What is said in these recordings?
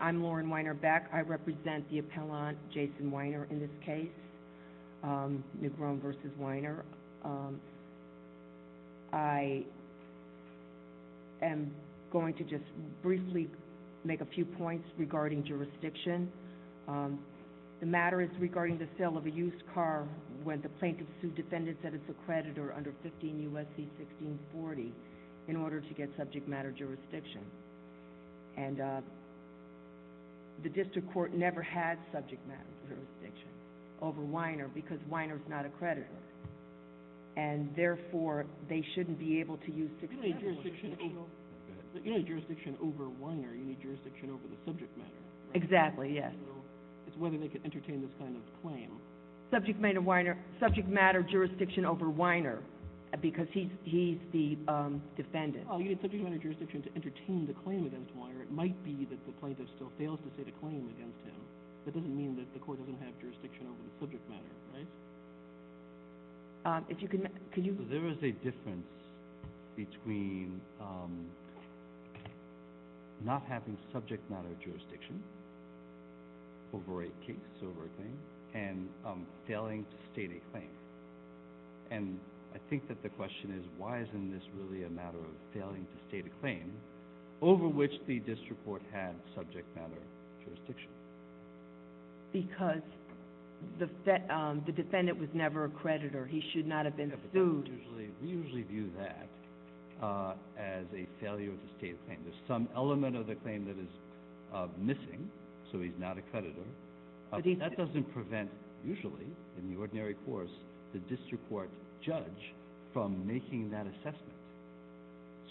I'm Lauren Weiner-Beck. I represent the appellant, Jason Weiner, in this case, Negron v. Weiner. I am going to just briefly make a few points regarding jurisdiction. The matter is regarding the sale of a used car when the plaintiff sued defendants that it's accredited or under 15 U.S.C. 1640 in order to get subject matter jurisdiction. And the district court never had subject matter jurisdiction over Weiner because Weiner is not accredited. And therefore, they shouldn't be able to use 1640. You don't need jurisdiction over Weiner, you need jurisdiction over the subject matter. Exactly, yes. It's whether they can entertain this kind of claim. Subject matter jurisdiction over Weiner because he's the defendant. You need subject matter jurisdiction to entertain the claim against Weiner. It might be that the plaintiff still fails to say the claim against him. That doesn't mean that the court doesn't have jurisdiction over the subject matter, right? There is a difference between not having subject matter jurisdiction over a case over a claim and failing to state a claim. And I think that the question is, why isn't this really a matter of failing to state a claim over which the district court had subject matter jurisdiction? Because the defendant was never a creditor. He should not have been sued. We usually view that as a failure to state a claim. There's some element of the claim that is missing, so he's not a creditor. That doesn't prevent, usually, in the ordinary course, the district court judge from making that assessment.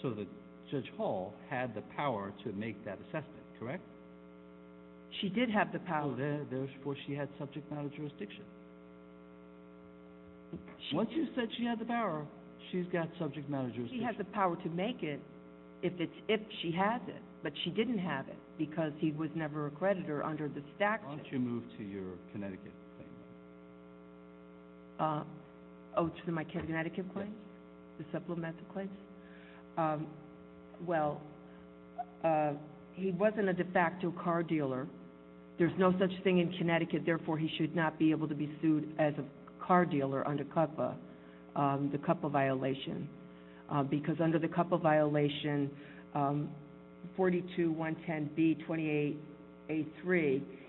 So Judge Hall had the power to make that assessment, correct? She did have the power. Therefore, she had subject matter jurisdiction. Once you said she had the power, she's got subject matter jurisdiction. She has the power to make it if she has it. But she didn't have it because he was never a creditor under the statute. Why don't you move to your Connecticut claim? Oh, to my Connecticut claim? The supplemental claim? Well, he wasn't a de facto car dealer. There's no such thing in Connecticut. Therefore, he should not be able to be sued as a car dealer under CUPPA, the CUPPA violation. Because under the CUPPA violation, 42110B28A3,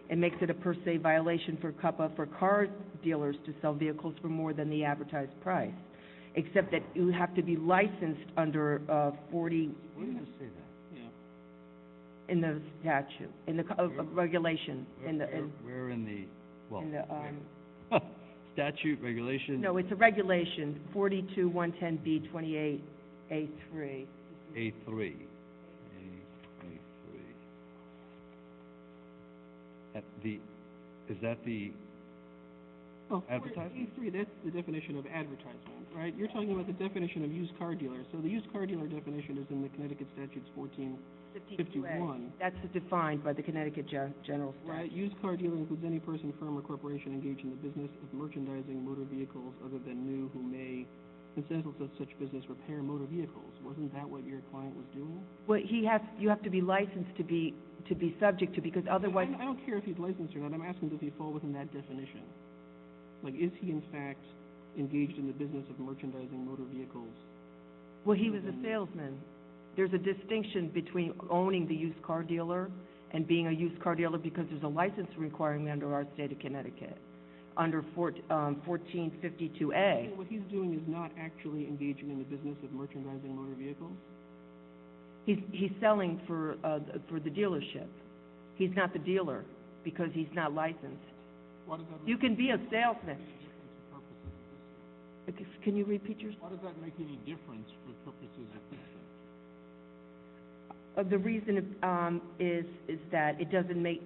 it makes it a per se violation for CUPPA for car dealers to sell vehicles for more than the advertised price, except that you have to be licensed under 40... What does it say there? In the statute, in the regulation. Where in the, well, in the statute, regulation? No, it's a regulation, 42110B28A3. A3. Is that the advertisement? Well, 42110B28A3, that's the definition of advertisement, right? You're talking about the definition of used car dealer. So the used car dealer definition is in the Connecticut Statutes 1451. That's defined by the Connecticut General Statute. Right, used car dealer includes any person, firm, or corporation engaged in the business of merchandising motor vehicles other than new who may, for instance, with such business, repair motor vehicles. Wasn't that what your client was doing? Well, he has, you have to be licensed to be subject to because otherwise... I don't care if he's licensed or not. I'm asking does he fall within that definition? Like, is he in fact engaged in the business of merchandising motor vehicles? Well, he was a salesman. There's a distinction between owning the used car dealer and being a used car dealer because there's a license requirement under our state of Connecticut. Under 1452A. So what he's doing is not actually engaging in the business of merchandising motor vehicles? He's selling for the dealership. He's not the dealer because he's not licensed. You can be a salesman. Can you repeat your question? Why does that make any difference for purposes of this? The reason is that it doesn't make...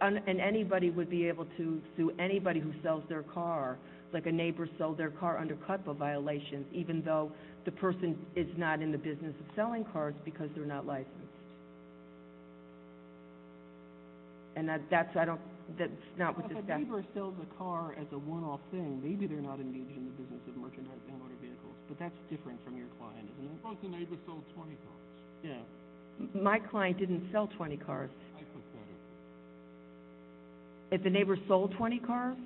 And anybody would be able to sue anybody who sells their car. Like a neighbor sold their car under CUTLA violations even though the person is not in the business of selling cars because they're not licensed. And that's not what this guy... If a neighbor sells a car as a one-off thing, maybe they're not engaged in the business of merchandising motor vehicles, but that's different from your client, isn't it? Suppose the neighbor sold 20 cars. My client didn't sell 20 cars. If the neighbor sold 20 cars?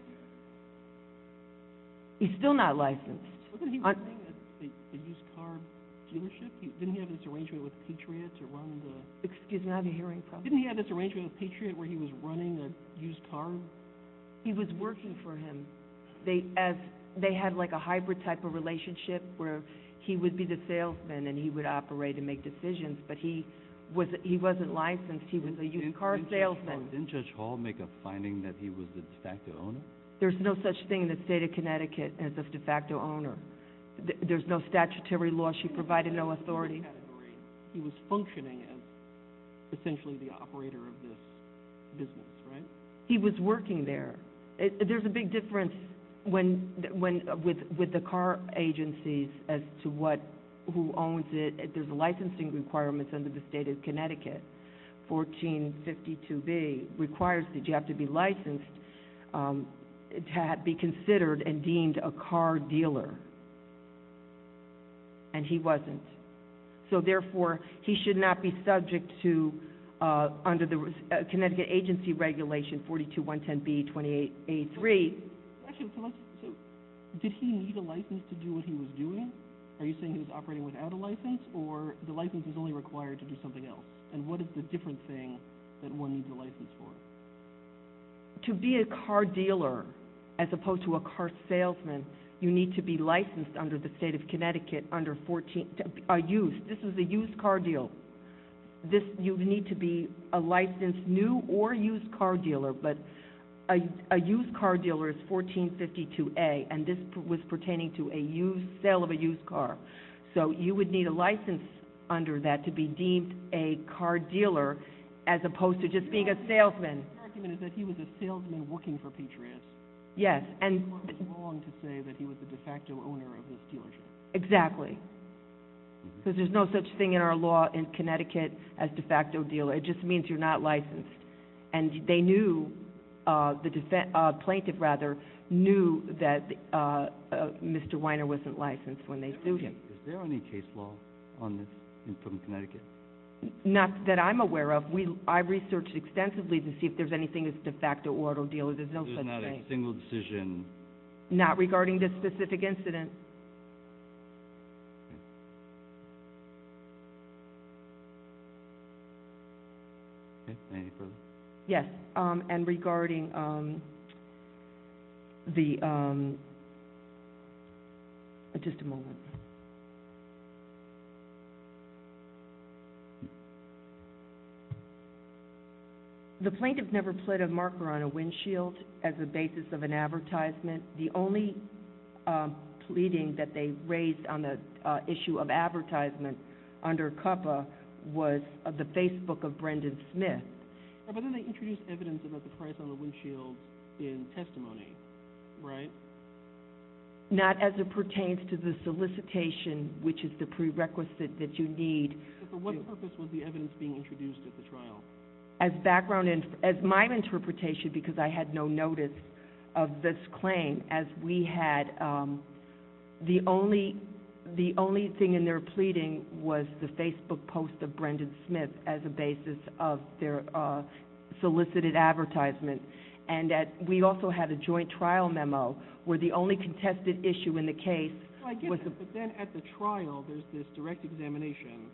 He's still not licensed. Wasn't he running a used car dealership? Didn't he have this arrangement with Patriot to run the... Excuse me, I have a hearing problem. Didn't he have this arrangement with Patriot where he was running a used car? He was working for him. They had like a hybrid type of relationship where he would be the salesman and he would operate and make decisions, but he wasn't licensed. He was a used car salesman. Didn't Judge Hall make a finding that he was the de facto owner? There's no such thing in the state of Connecticut as a de facto owner. There's no statutory law. She provided no authority. He was functioning as essentially the operator of this business, right? He was working there. There's a big difference with the car agencies as to who owns it. There's licensing requirements under the state of Connecticut. 1452B requires that you have to be licensed to be considered and deemed a car dealer. And he wasn't. So therefore, he should not be subject to under the Connecticut Agency Regulation 42110B-2883. Actually, so did he need a license to do what he was doing? Are you saying he was operating without a license or the license was only required to do something else? And what is the different thing that one needs a license for? To be a car dealer, as opposed to a car salesman, you need to be licensed under the state of Connecticut under 14, used, this was a used car deal. You need to be a licensed new or used car dealer, but a used car dealer is 1452A, and this was pertaining to a sale of a used car. So you would need a license under that to be deemed a car dealer, as opposed to just being a salesman. The argument is that he was a salesman working for Patriots. Yes. It's wrong to say that he was the de facto owner of this dealership. Exactly. Because there's no such thing in our law in Connecticut as de facto dealer. It just means you're not licensed. And they knew, the plaintiff rather, knew that Mr. Weiner wasn't licensed when they sued him. Is there any case law on this from Connecticut? Not that I'm aware of. I researched extensively to see if there's anything as de facto or auto dealer. There's no such thing. There's not a single decision. Not regarding this specific incident. Okay. Okay. Any further? Yes. And regarding the... Just a moment. The plaintiff never put a marker on a windshield as a basis of an advertisement. The only pleading that they raised on the issue of advertisement under COPPA was of the Facebook of Brendan Smith. But then they introduced evidence about the price on the windshield in testimony, right? Not as it pertains to the solicitation, which is the prerequisite that you need. But for what purpose was the evidence being introduced at the trial? As background, as my interpretation, because I had no notice of this claim, as we had... The only thing in their pleading was the Facebook post of Brendan Smith as a basis of their solicited advertisement. And we also had a joint trial memo where the only contested issue in the case was... But then at the trial, there's this direct examination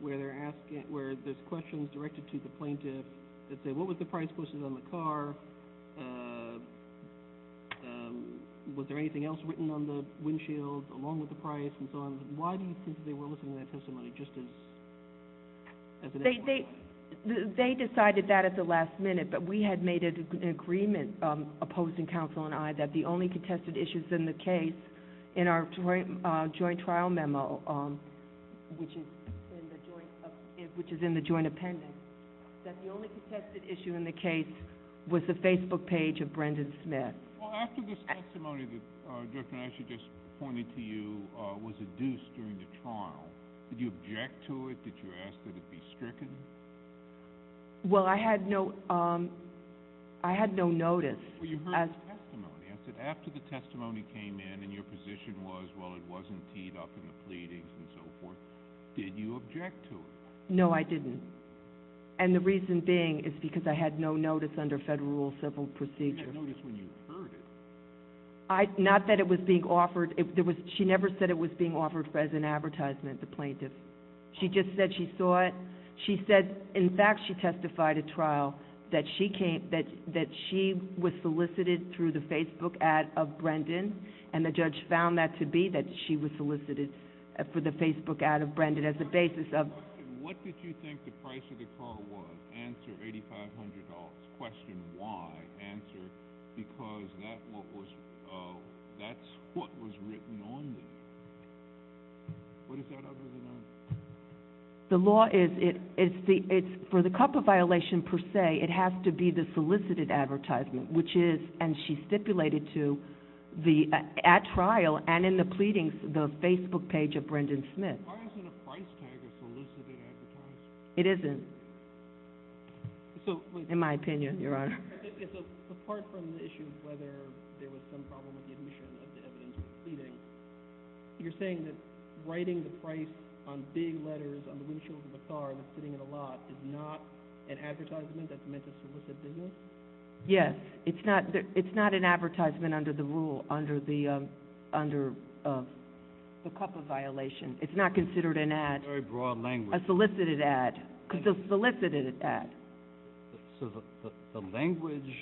where there's questions directed to the plaintiff that say, what was the price posted on the car? Was there anything else written on the windshield along with the price and so on? Why do you think they were listing that testimony just as an issue? They decided that at the last minute, but we had made an agreement, opposing counsel and I, that the only contested issues in the case in our joint trial memo, which is in the joint appendix, that the only contested issue in the case was the Facebook page of Brendan Smith. Well, after this testimony that Judge Van Asch just pointed to you was adduced during the trial, did you object to it? Did you ask that it be stricken? Well, I had no... I had no notice. Well, you heard this testimony. I said, after the testimony came in and your position was, well, it wasn't teed up in the pleadings and so forth, did you object to it? No, I didn't. And the reason being is because I had no notice under federal civil procedure. You had notice when you heard it. Not that it was being offered. She never said it was being offered as an advertisement, the plaintiff. She just said she saw it. She said, in fact, she testified at trial that she came... that she was solicited through the Facebook ad of Brendan and the judge found that to be that she was solicited for the Facebook ad of Brendan as a basis of... What did you think the price of the car was? Answer, $8,500. Question, why? Answer, because that's what was written on there. What is that other than that? The law is... for the copper violation, per se, it has to be the solicited advertisement, which is, and she stipulated to at trial and in the pleadings, the Facebook page of Brendan Smith. Why isn't a price tag a solicited advertisement? It isn't. In my opinion, Your Honor. Apart from the issue of whether there was some problem with the admission of the evidence in the pleadings, you're saying that writing the price on big letters on the windshield of a car that's sitting in a lot is not an advertisement that's meant to solicit business? Yes. It's not an advertisement under the under the copper violation. It's not considered an ad. A very broad language. A solicited ad. So the language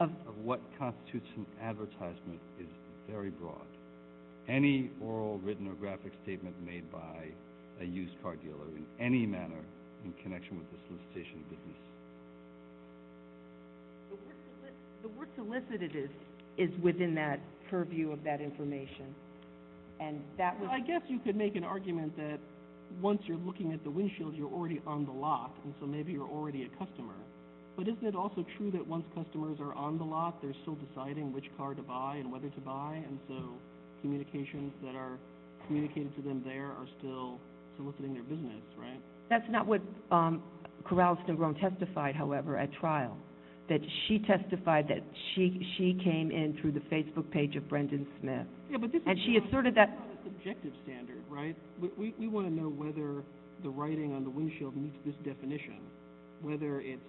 of what constitutes an advertisement is very broad. Any oral, written, or graphic statement made by a used car dealer in any manner in connection with the solicitation of business. The word solicited is within that purview of that information. I guess you could make an argument that once you're looking at the windshield, you're already on the lot, and so maybe you're already a customer. But isn't it also true that once customers are on the lot, they're still deciding which car to buy and whether to buy and so communications that are communicated to them there are still soliciting their business, right? That's not what Corralston Grone testified, however, at trial. She testified that she came in through the Facebook page of Brendan Smith. And she asserted that... ...objective standard, right? We want to know whether the writing on the windshield meets this definition. Whether it's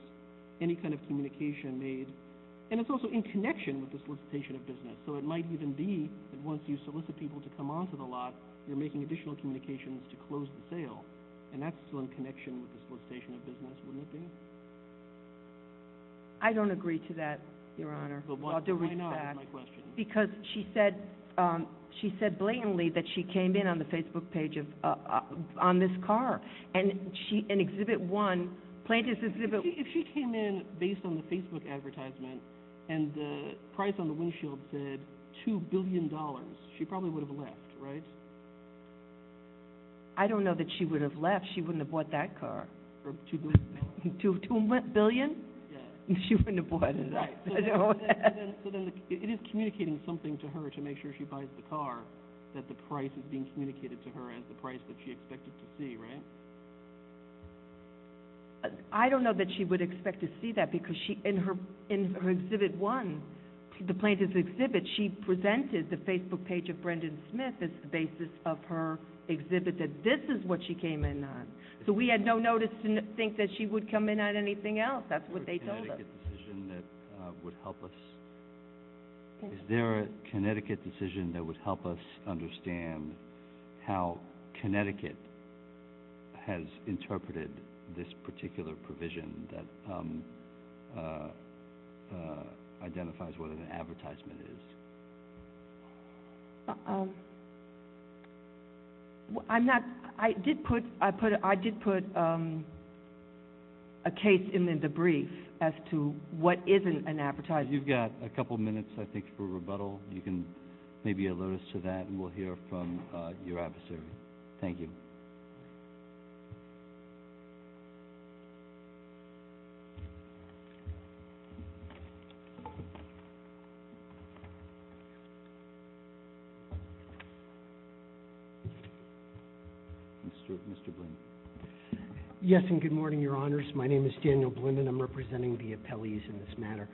any kind of communication made...and it's also in connection with the solicitation of business. So it might even be that once you solicit people to come onto the lot, you're making additional communications to close the sale. And that's still in connection with the solicitation of business, wouldn't it be? I don't agree to that, Your Honor. Because she said blatantly that she came in on the Facebook page on this car. And Exhibit 1 plaintiff's exhibit... If she came in based on the Facebook advertisement and the price on the windshield said $2 billion, she probably would have left, right? I don't know that she would have left. She wouldn't have bought that car. $2 billion? She wouldn't have bought it. So then it is communicating something to her to make sure she buys the car that the price is being communicated to her as the price that she expected to see, right? I don't know that she would expect to see that because in her Exhibit 1 the plaintiff's exhibit she presented the Facebook page of Brendan Smith as the basis of her exhibit that this is what she came in on. So we had no notice to think that she would come in on anything else. That's what they told us. Is there a Connecticut decision that would help us understand how Connecticut has interpreted this particular provision that identifies what an advertisement is? Um I'm not I did put a case in the brief as to what is an advertisement. You've got a couple minutes, I think, for rebuttal. You can maybe alert us to that and we'll hear from your adversary. Thank you. Mr. Blinden. Yes, and good morning, Your Honors. My name is Daniel Blinden. I'm representing the appellees in this matter.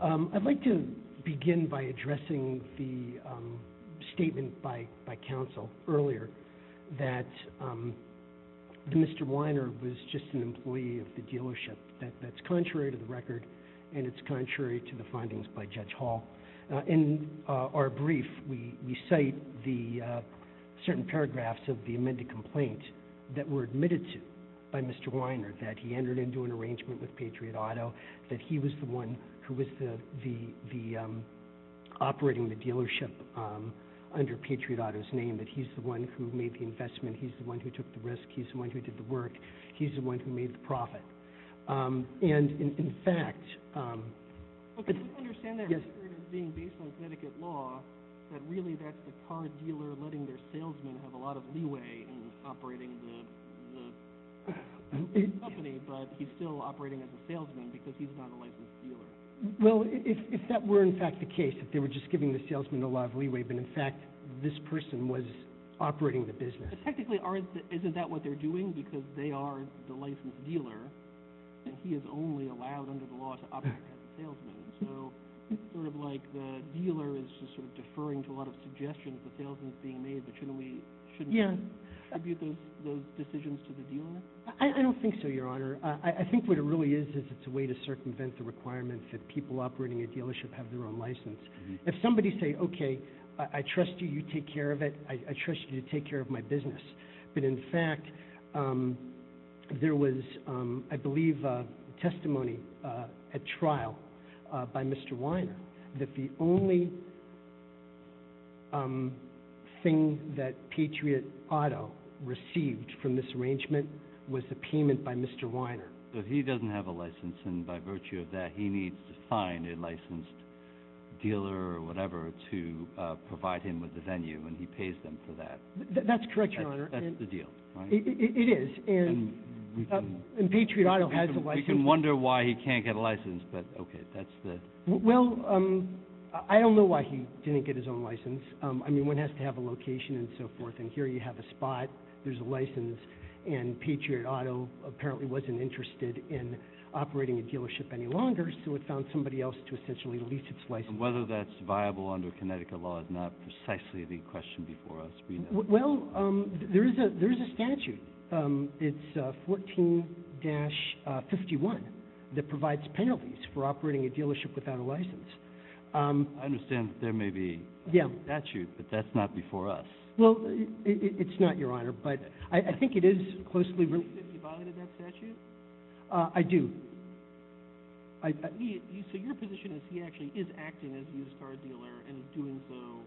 I'd like to begin by addressing the statement by counsel earlier that Mr. Weiner was just an employee of the dealership that's contrary to the record and it's contrary to the findings by Judge Hall. In our brief we cite certain paragraphs of the amended complaint that were admitted to by Mr. Weiner that he entered into an arrangement with Patriot Auto that he was the one who was operating the dealership under Patriot Auto's name, that he's the one who made the investment, he's the one who took the risk, he's the one who did the work, he's the one who made the profit. And in fact I don't understand that record being based on Connecticut law that really that's the car dealer letting their salesman have a lot of leeway in operating the company but he's still operating as a salesman because he's not a licensed dealer. If that were in fact the case, if they were just giving the salesman a lot of leeway but in fact this person was operating the business. Technically isn't that what they're doing because they are the licensed dealer and he is only allowed under the law to operate as a salesman. So it's sort of like the dealer is just sort of deferring to a lot of suggestions the salesman's being made but shouldn't we tribute those decisions to the dealer? I don't think so, your honor. I think what it really is is it's a way to circumvent the requirements that people operating a dealership have their own license. If somebody say, okay I trust you, you take care of it I trust you to take care of my business but in fact there was I believe a testimony at trial by Mr. Weiner that the only thing that Patriot Auto received from this arrangement was a payment by Mr. Weiner. So he doesn't have a license and by virtue of that he needs to find a licensed dealer or whatever to provide him with the venue and he pays them for that. That's correct, your honor. That's the deal. It is and Patriot Auto We can wonder why he can't get a license but okay, that's the Well, I don't know why he didn't get his own license. I mean one has to have a location and so forth and here you have a spot, there's a license and Patriot Auto apparently wasn't interested in operating a dealership any longer so it found somebody else to essentially lease its license Whether that's viable under Connecticut law is not precisely the question before us Well, there is a statute It's 14-51 that provides penalties for operating a dealership without a license I understand that there may be a statute but that's not before us Well, it's not your honor but I think it is closely related Do you think he violated that statute? I do So your position is he actually is acting as a used car dealer and doing so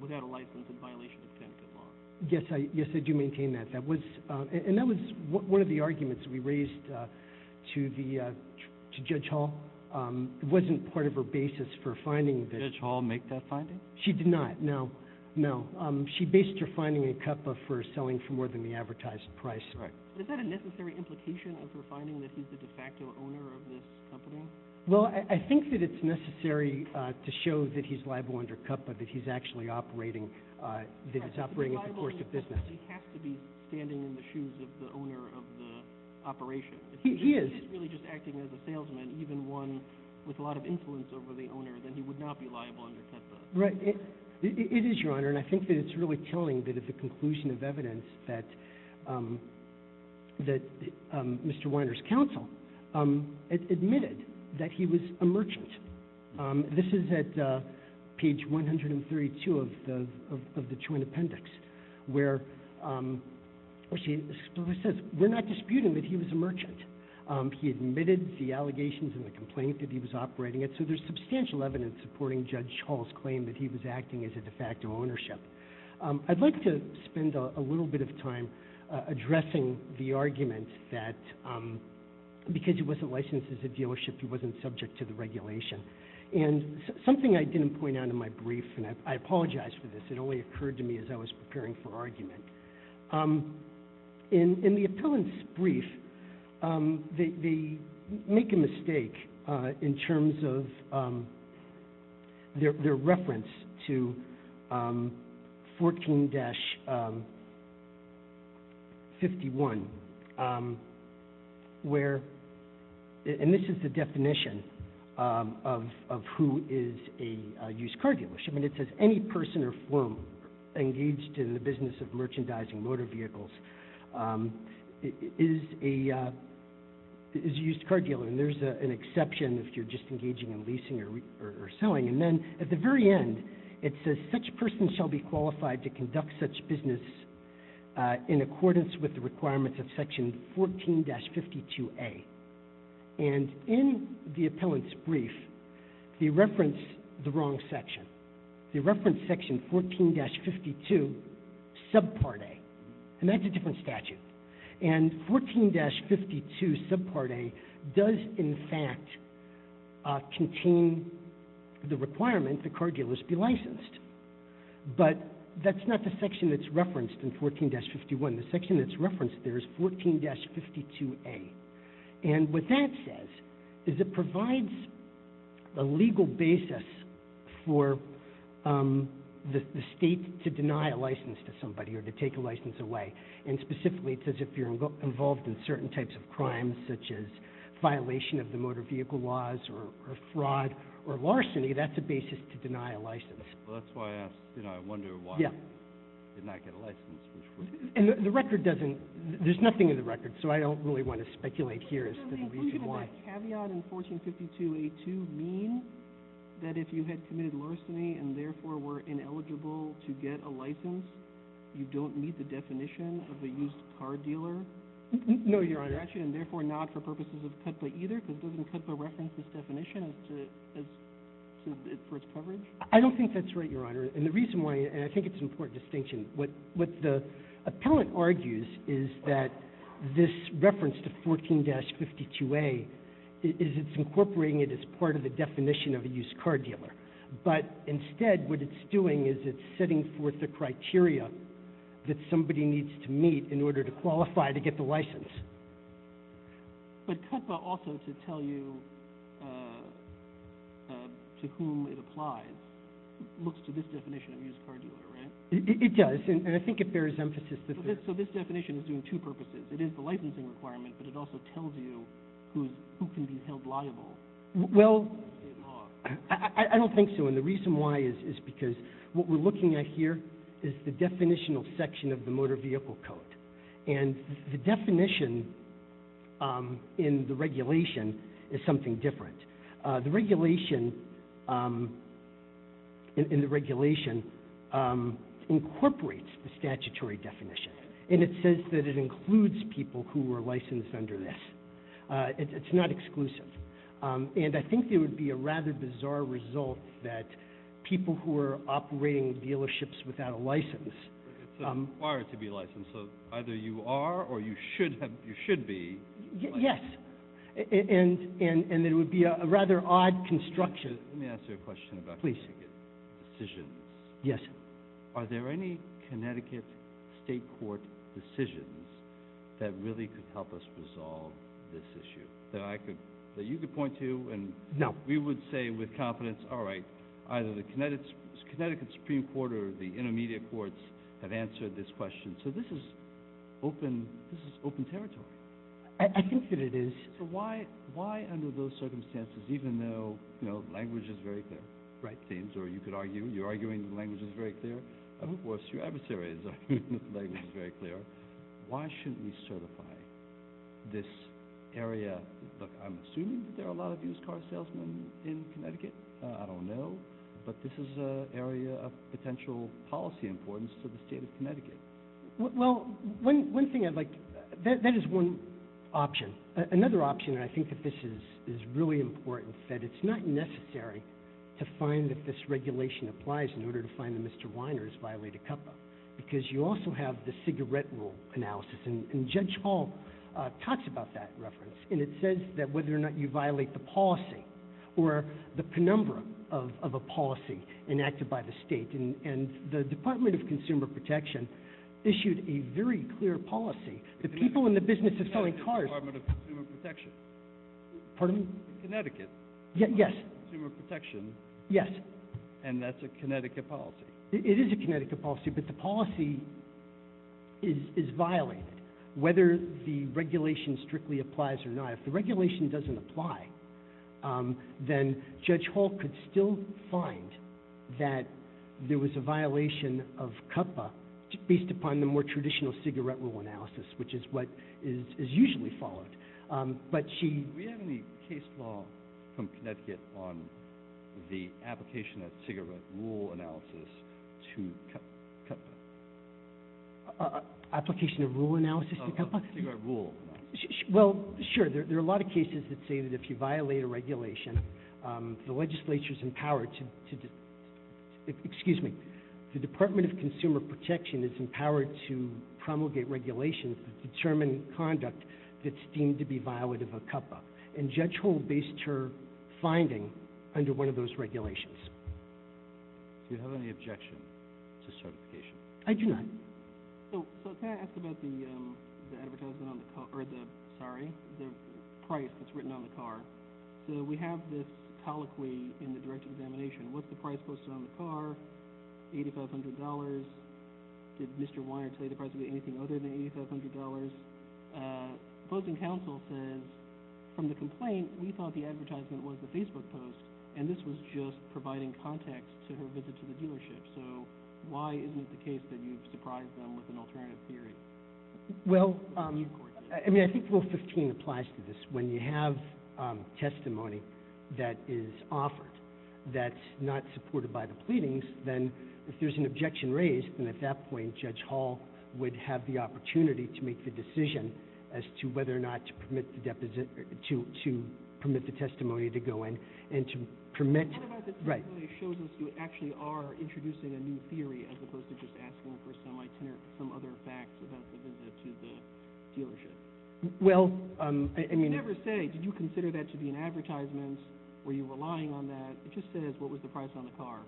without a license in violation of Connecticut law Yes, I do maintain that and that was one of the arguments we raised to the Judge Hall It wasn't part of her basis for finding Did Judge Hall make that finding? She did not, no She based her finding in CUPPA for selling for more than the advertised price Is that a necessary implication of her finding that he's the de facto owner of this company? Well, I think that it's necessary to show that he's liable under CUPPA that he's actually operating that he's operating in the course of business He has to be standing in the shoes of the owner of the operation If he's really just acting as a salesman even one with a lot of influence over the owner, then he would not be liable under CUPPA It is, your honor, and I think that it's really telling that at the conclusion of evidence that Mr. Weiner's counsel admitted that he was a merchant This is at page 132 of the Joint Appendix where she says, we're not disputing that he was a merchant He admitted the allegations and the complaint that he was operating it, so there's substantial evidence supporting Judge Hall's claim that he was acting as a de facto ownership I'd like to spend a little bit of time addressing the argument that because he wasn't licensed as a dealership he wasn't subject to the regulation and something I didn't point out in my brief, and I apologize for this it only occurred to me as I was preparing for argument In the appellant's brief they make a mistake in terms of their reference to 14-51 where and this is the definition of who is a used car dealership and it says any person or firm engaged in the business of merchandising motor vehicles is a used car dealer and there's an exception if you're just engaging in leasing or selling and then at the very end it says such person shall be qualified to conduct such business in accordance with the requirements of section 14-52A and in the appellant's brief they reference the wrong section they reference section 14-52 subpart A and that's a different statute and 14-52 subpart A does in fact contain the requirement that car dealers be licensed but that's not the section that's referenced in 14-51 the section that's referenced there is 14-52A and what that says is it provides a legal basis for the state to deny a license to somebody or to take a license away and specifically it says if you're involved in certain types of crimes such as violation of the motor vehicle laws or fraud or larceny that's a basis to deny a license that's why I asked I wonder why did not get a license there's nothing in the record so I don't really want to speculate here did that caveat in 14-52A-2 mean that if you had committed larceny and therefore were ineligible to get a license you don't meet the definition of a used car dealer no your honor and therefore not for purposes of CUTLA either because doesn't CUTLA reference this definition for its coverage I don't think that's right your honor and the reason why and I think it's an important distinction what the appellant argues is that this reference to 14-52A is it's incorporating it as part of the definition of a used car dealer but instead what it's doing is it's setting forth the criteria that somebody needs to meet in order to qualify to get the license but CUTLA also to tell you to whom it applies looks to this definition of used car dealer it does and I think it bares emphasis so this definition is doing two purposes it is the licensing requirement but it also tells you who can be held liable I don't think so and the reason why is because what we're looking at here is the definitional section of the motor vehicle code and the definition in the regulation is something different the regulation in the regulation incorporates the statutory definition and it says that it includes people who are licensed under this it's not exclusive and I think there would be a rather bizarre result that people who are operating dealerships without a license require to be licensed so either you are or you should be yes and it would be a rather odd construction let me ask you a question about Connecticut decisions are there any Connecticut state court decisions that really could help us resolve this issue that you could point to we would say with confidence either the Connecticut Supreme Court or the intermediate courts have answered this question so this is open this is open territory I think that it is so why under those circumstances even though language is very clear you could argue your language is very clear of course your adversary's language is very clear why shouldn't we certify this area I'm assuming that there are a lot of used car salesmen in Connecticut I don't know but this is an area of potential policy importance to the state of Connecticut well one thing that is one option, another option I think that this is really important that it's not necessary to find that this regulation applies in order to find that Mr. Weiner has violated COPPA because you also have the cigarette rule analysis and Judge Hall talks about that reference and it says that whether or not you violate the policy or the penumbra of a policy enacted by the state and the Department of Consumer Protection issued a very clear policy the people in the business of selling cars the Department of Consumer Protection pardon me? Connecticut yes and that's a Connecticut policy it is a Connecticut policy but the policy is violated whether the regulation strictly applies or not if the regulation doesn't apply then Judge Hall could still find that there was a violation of COPPA based upon the more traditional cigarette rule analysis which is what is usually followed but she do we have any case law from Connecticut on the application of cigarette rule analysis to COPPA application of rule analysis to COPPA well sure there are a lot of cases that say that if you violate a regulation the legislature is empowered excuse me the Department of Consumer Protection is empowered to promulgate regulations to determine conduct that's deemed to be violent of a COPPA and Judge Hall based her finding under one of those regulations do you have any objection to certification I do not so can I ask about the sorry the price that's written on the car so we have this colloquy in the direct examination what's the price posted on the car $8500 did Mr. Weiner tell you the price would be anything other than $8500 opposing counsel says from the complaint we thought the advertisement was the Facebook post and this was just providing context to her visit to the dealership so why isn't it the case that you've surprised them with an alternative theory well I think rule 15 applies to this when you have testimony that is offered that's not supported by the pleadings then if there's an objection raised then at that point Judge Hall would have the opportunity to make the decision as to whether or not to permit the deposition to permit the testimony to go in and to permit you actually are introducing a new theory as opposed to just asking for some other facts about the visit to the dealership well did you consider that to be an advertisement were you relying on that it just says what was the price on the car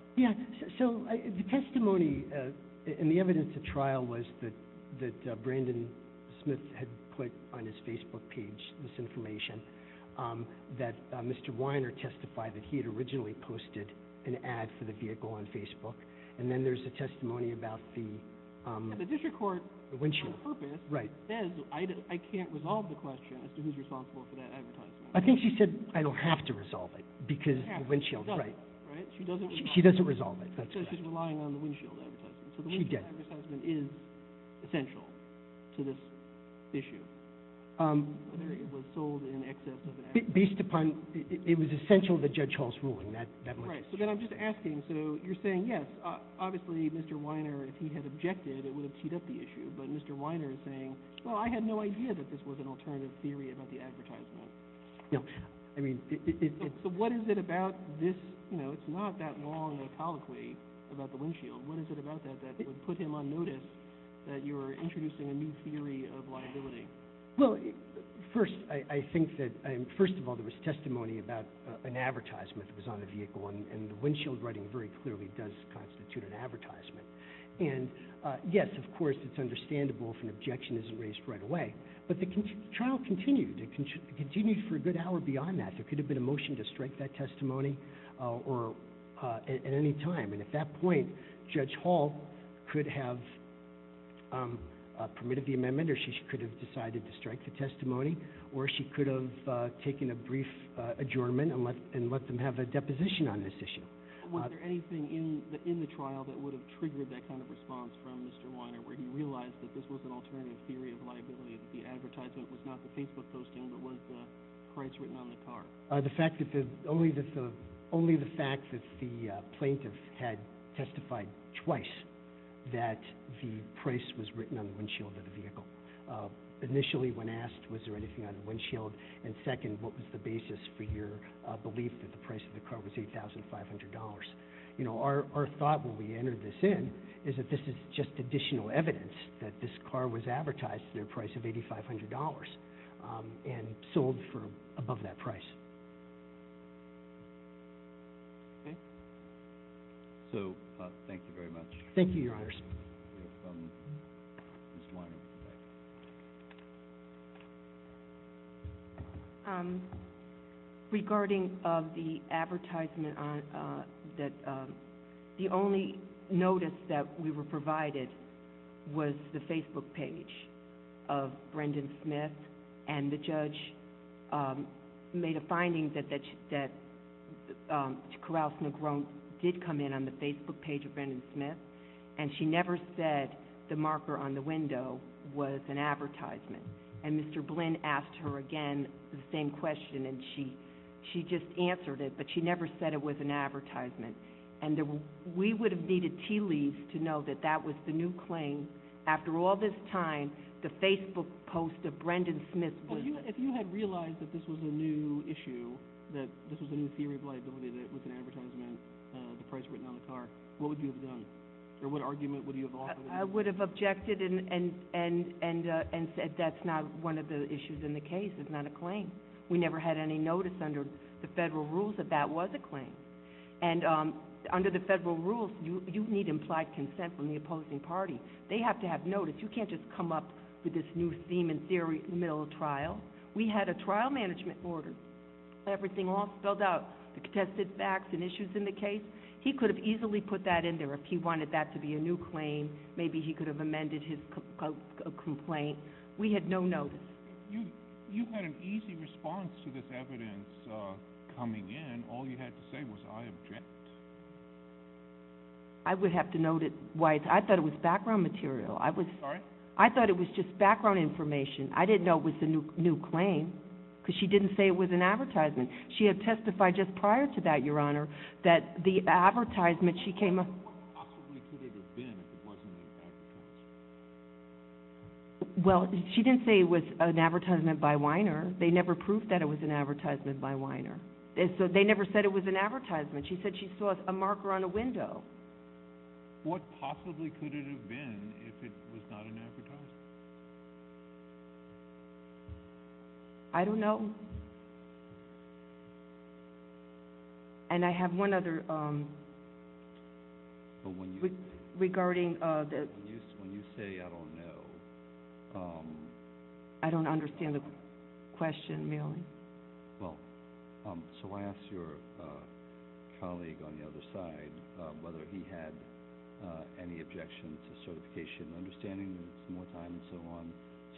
so the testimony and the evidence at trial was that Brandon Smith had put on his Facebook page this information that Mr. Weiner testified that he had originally posted an ad for the vehicle on Facebook and then there's a testimony about the windshield the district court on purpose says I can't resolve the question as to who's responsible for that advertisement I think she said I don't have to resolve it because the windshield she doesn't resolve it so she's relying on the windshield advertisement so the windshield advertisement is essential to this issue whether it was sold in excess based upon it was essential to Judge Hall's ruling so then I'm just asking so you're saying yes obviously Mr. Weiner if he had objected it would have teed up the issue but Mr. Weiner is saying well I had no idea that this was an alternative theory about the advertisement so what is it about this it's not that long of a colloquy about the windshield what is it about that that would put him on notice that you're introducing a new theory of liability well first I think that first of all there was testimony about an advertisement that was on the vehicle and the windshield writing very clearly does constitute an advertisement and yes of course it's understandable if an objection isn't raised right away but the trial continued it continued for a good hour beyond that there could have been a motion to strike that testimony or at any time and at that point Judge Hall could have permitted the amendment or she could have decided to strike the testimony or she could have taken a brief adjournment and let them have a deposition on this issue was there anything in the trial that would have triggered that kind of response from Mr. Weiner where he realized that this was an alternative theory of liability that the advertisement was not the Facebook posting but was the price written on the car only the fact that the plaintiff had testified twice that the price was written on the windshield of the vehicle initially when asked was there anything on the windshield and second what was the basis for your belief that the price of the car was $8,500 you know our thought when we entered this in is that this is just additional evidence that this car was advertised at a price of $8,500 and sold for above that price so thank you very much thank you your honors regarding of the advertisement that the only notice that we were provided was the Facebook page of Brendan Smith and the judge made a finding that Carouse Negron did come in on the Facebook page of Brendan Smith and she never said the marker on the window was an advertisement and Mr. Blinn asked her again the same question and she just answered it but she never said it was an advertisement and we would have needed tea leaves to know that that was the new claim after all this time the Facebook post of Brendan Smith if you had realized that this was a new issue that this was a new theory of liability that it was an advertisement the price written on the car what would you have done? or what argument would you have offered? I would have objected and said that's not one of the issues in the case, it's not a claim we never had any notice under the federal rules that that was a claim and under the federal rules you need implied consent from the opposing party they have to have notice you can't just come up with this new theme and theory in the middle of trial we had a trial management order everything all spelled out the contested facts and issues in the case he could have easily put that in there if he wanted that to be a new claim maybe he could have amended his complaint we had no notice you had an easy response to this evidence coming in, all you had to say was I object I would have to note it I thought it was background material I thought it was just background information I didn't know it was a new claim because she didn't say it was an advertisement she had testified just prior to that that the advertisement she came up with what possibly could it have been if it wasn't an advertisement she didn't say it was an advertisement by Weiner, they never proved that it was an advertisement by Weiner they never said it was an advertisement she said she saw a marker on a window what possibly could it have been if it was not an advertisement I don't know I don't know and I have one other regarding when you say I don't know I don't understand the question merely so I asked your colleague on the other side whether he had any objection to certification and understanding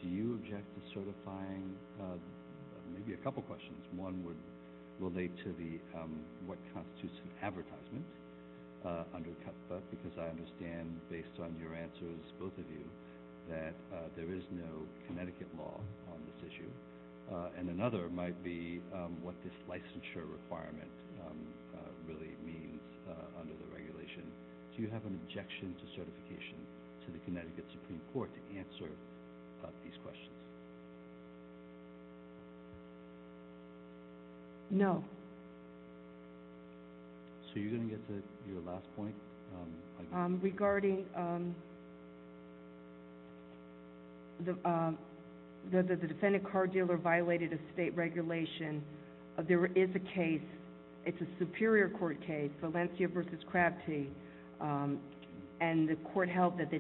do you object to certifying maybe a couple of questions one would relate to the what constitutes an advertisement because I understand based on your answers both of you that there is no Connecticut law on this issue and another might be what this licensure requirement really means under the regulation do you have an objection to certification to the Connecticut Supreme Court to answer these questions no so you're going to get to your last point regarding the defendant car dealer violated a state regulation there is a case it's a superior court case Valencia v. Crabtee and the court held that the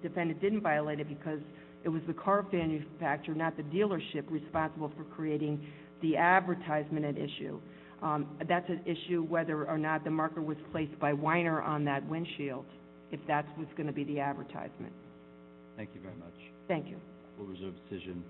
defendant didn't violate it because it was the car manufacturer not the dealership responsible for creating the advertisement at issue that's an issue whether or not the marker was placed by Weiner on that windshield if that was going to be the advertisement thank you very much thank you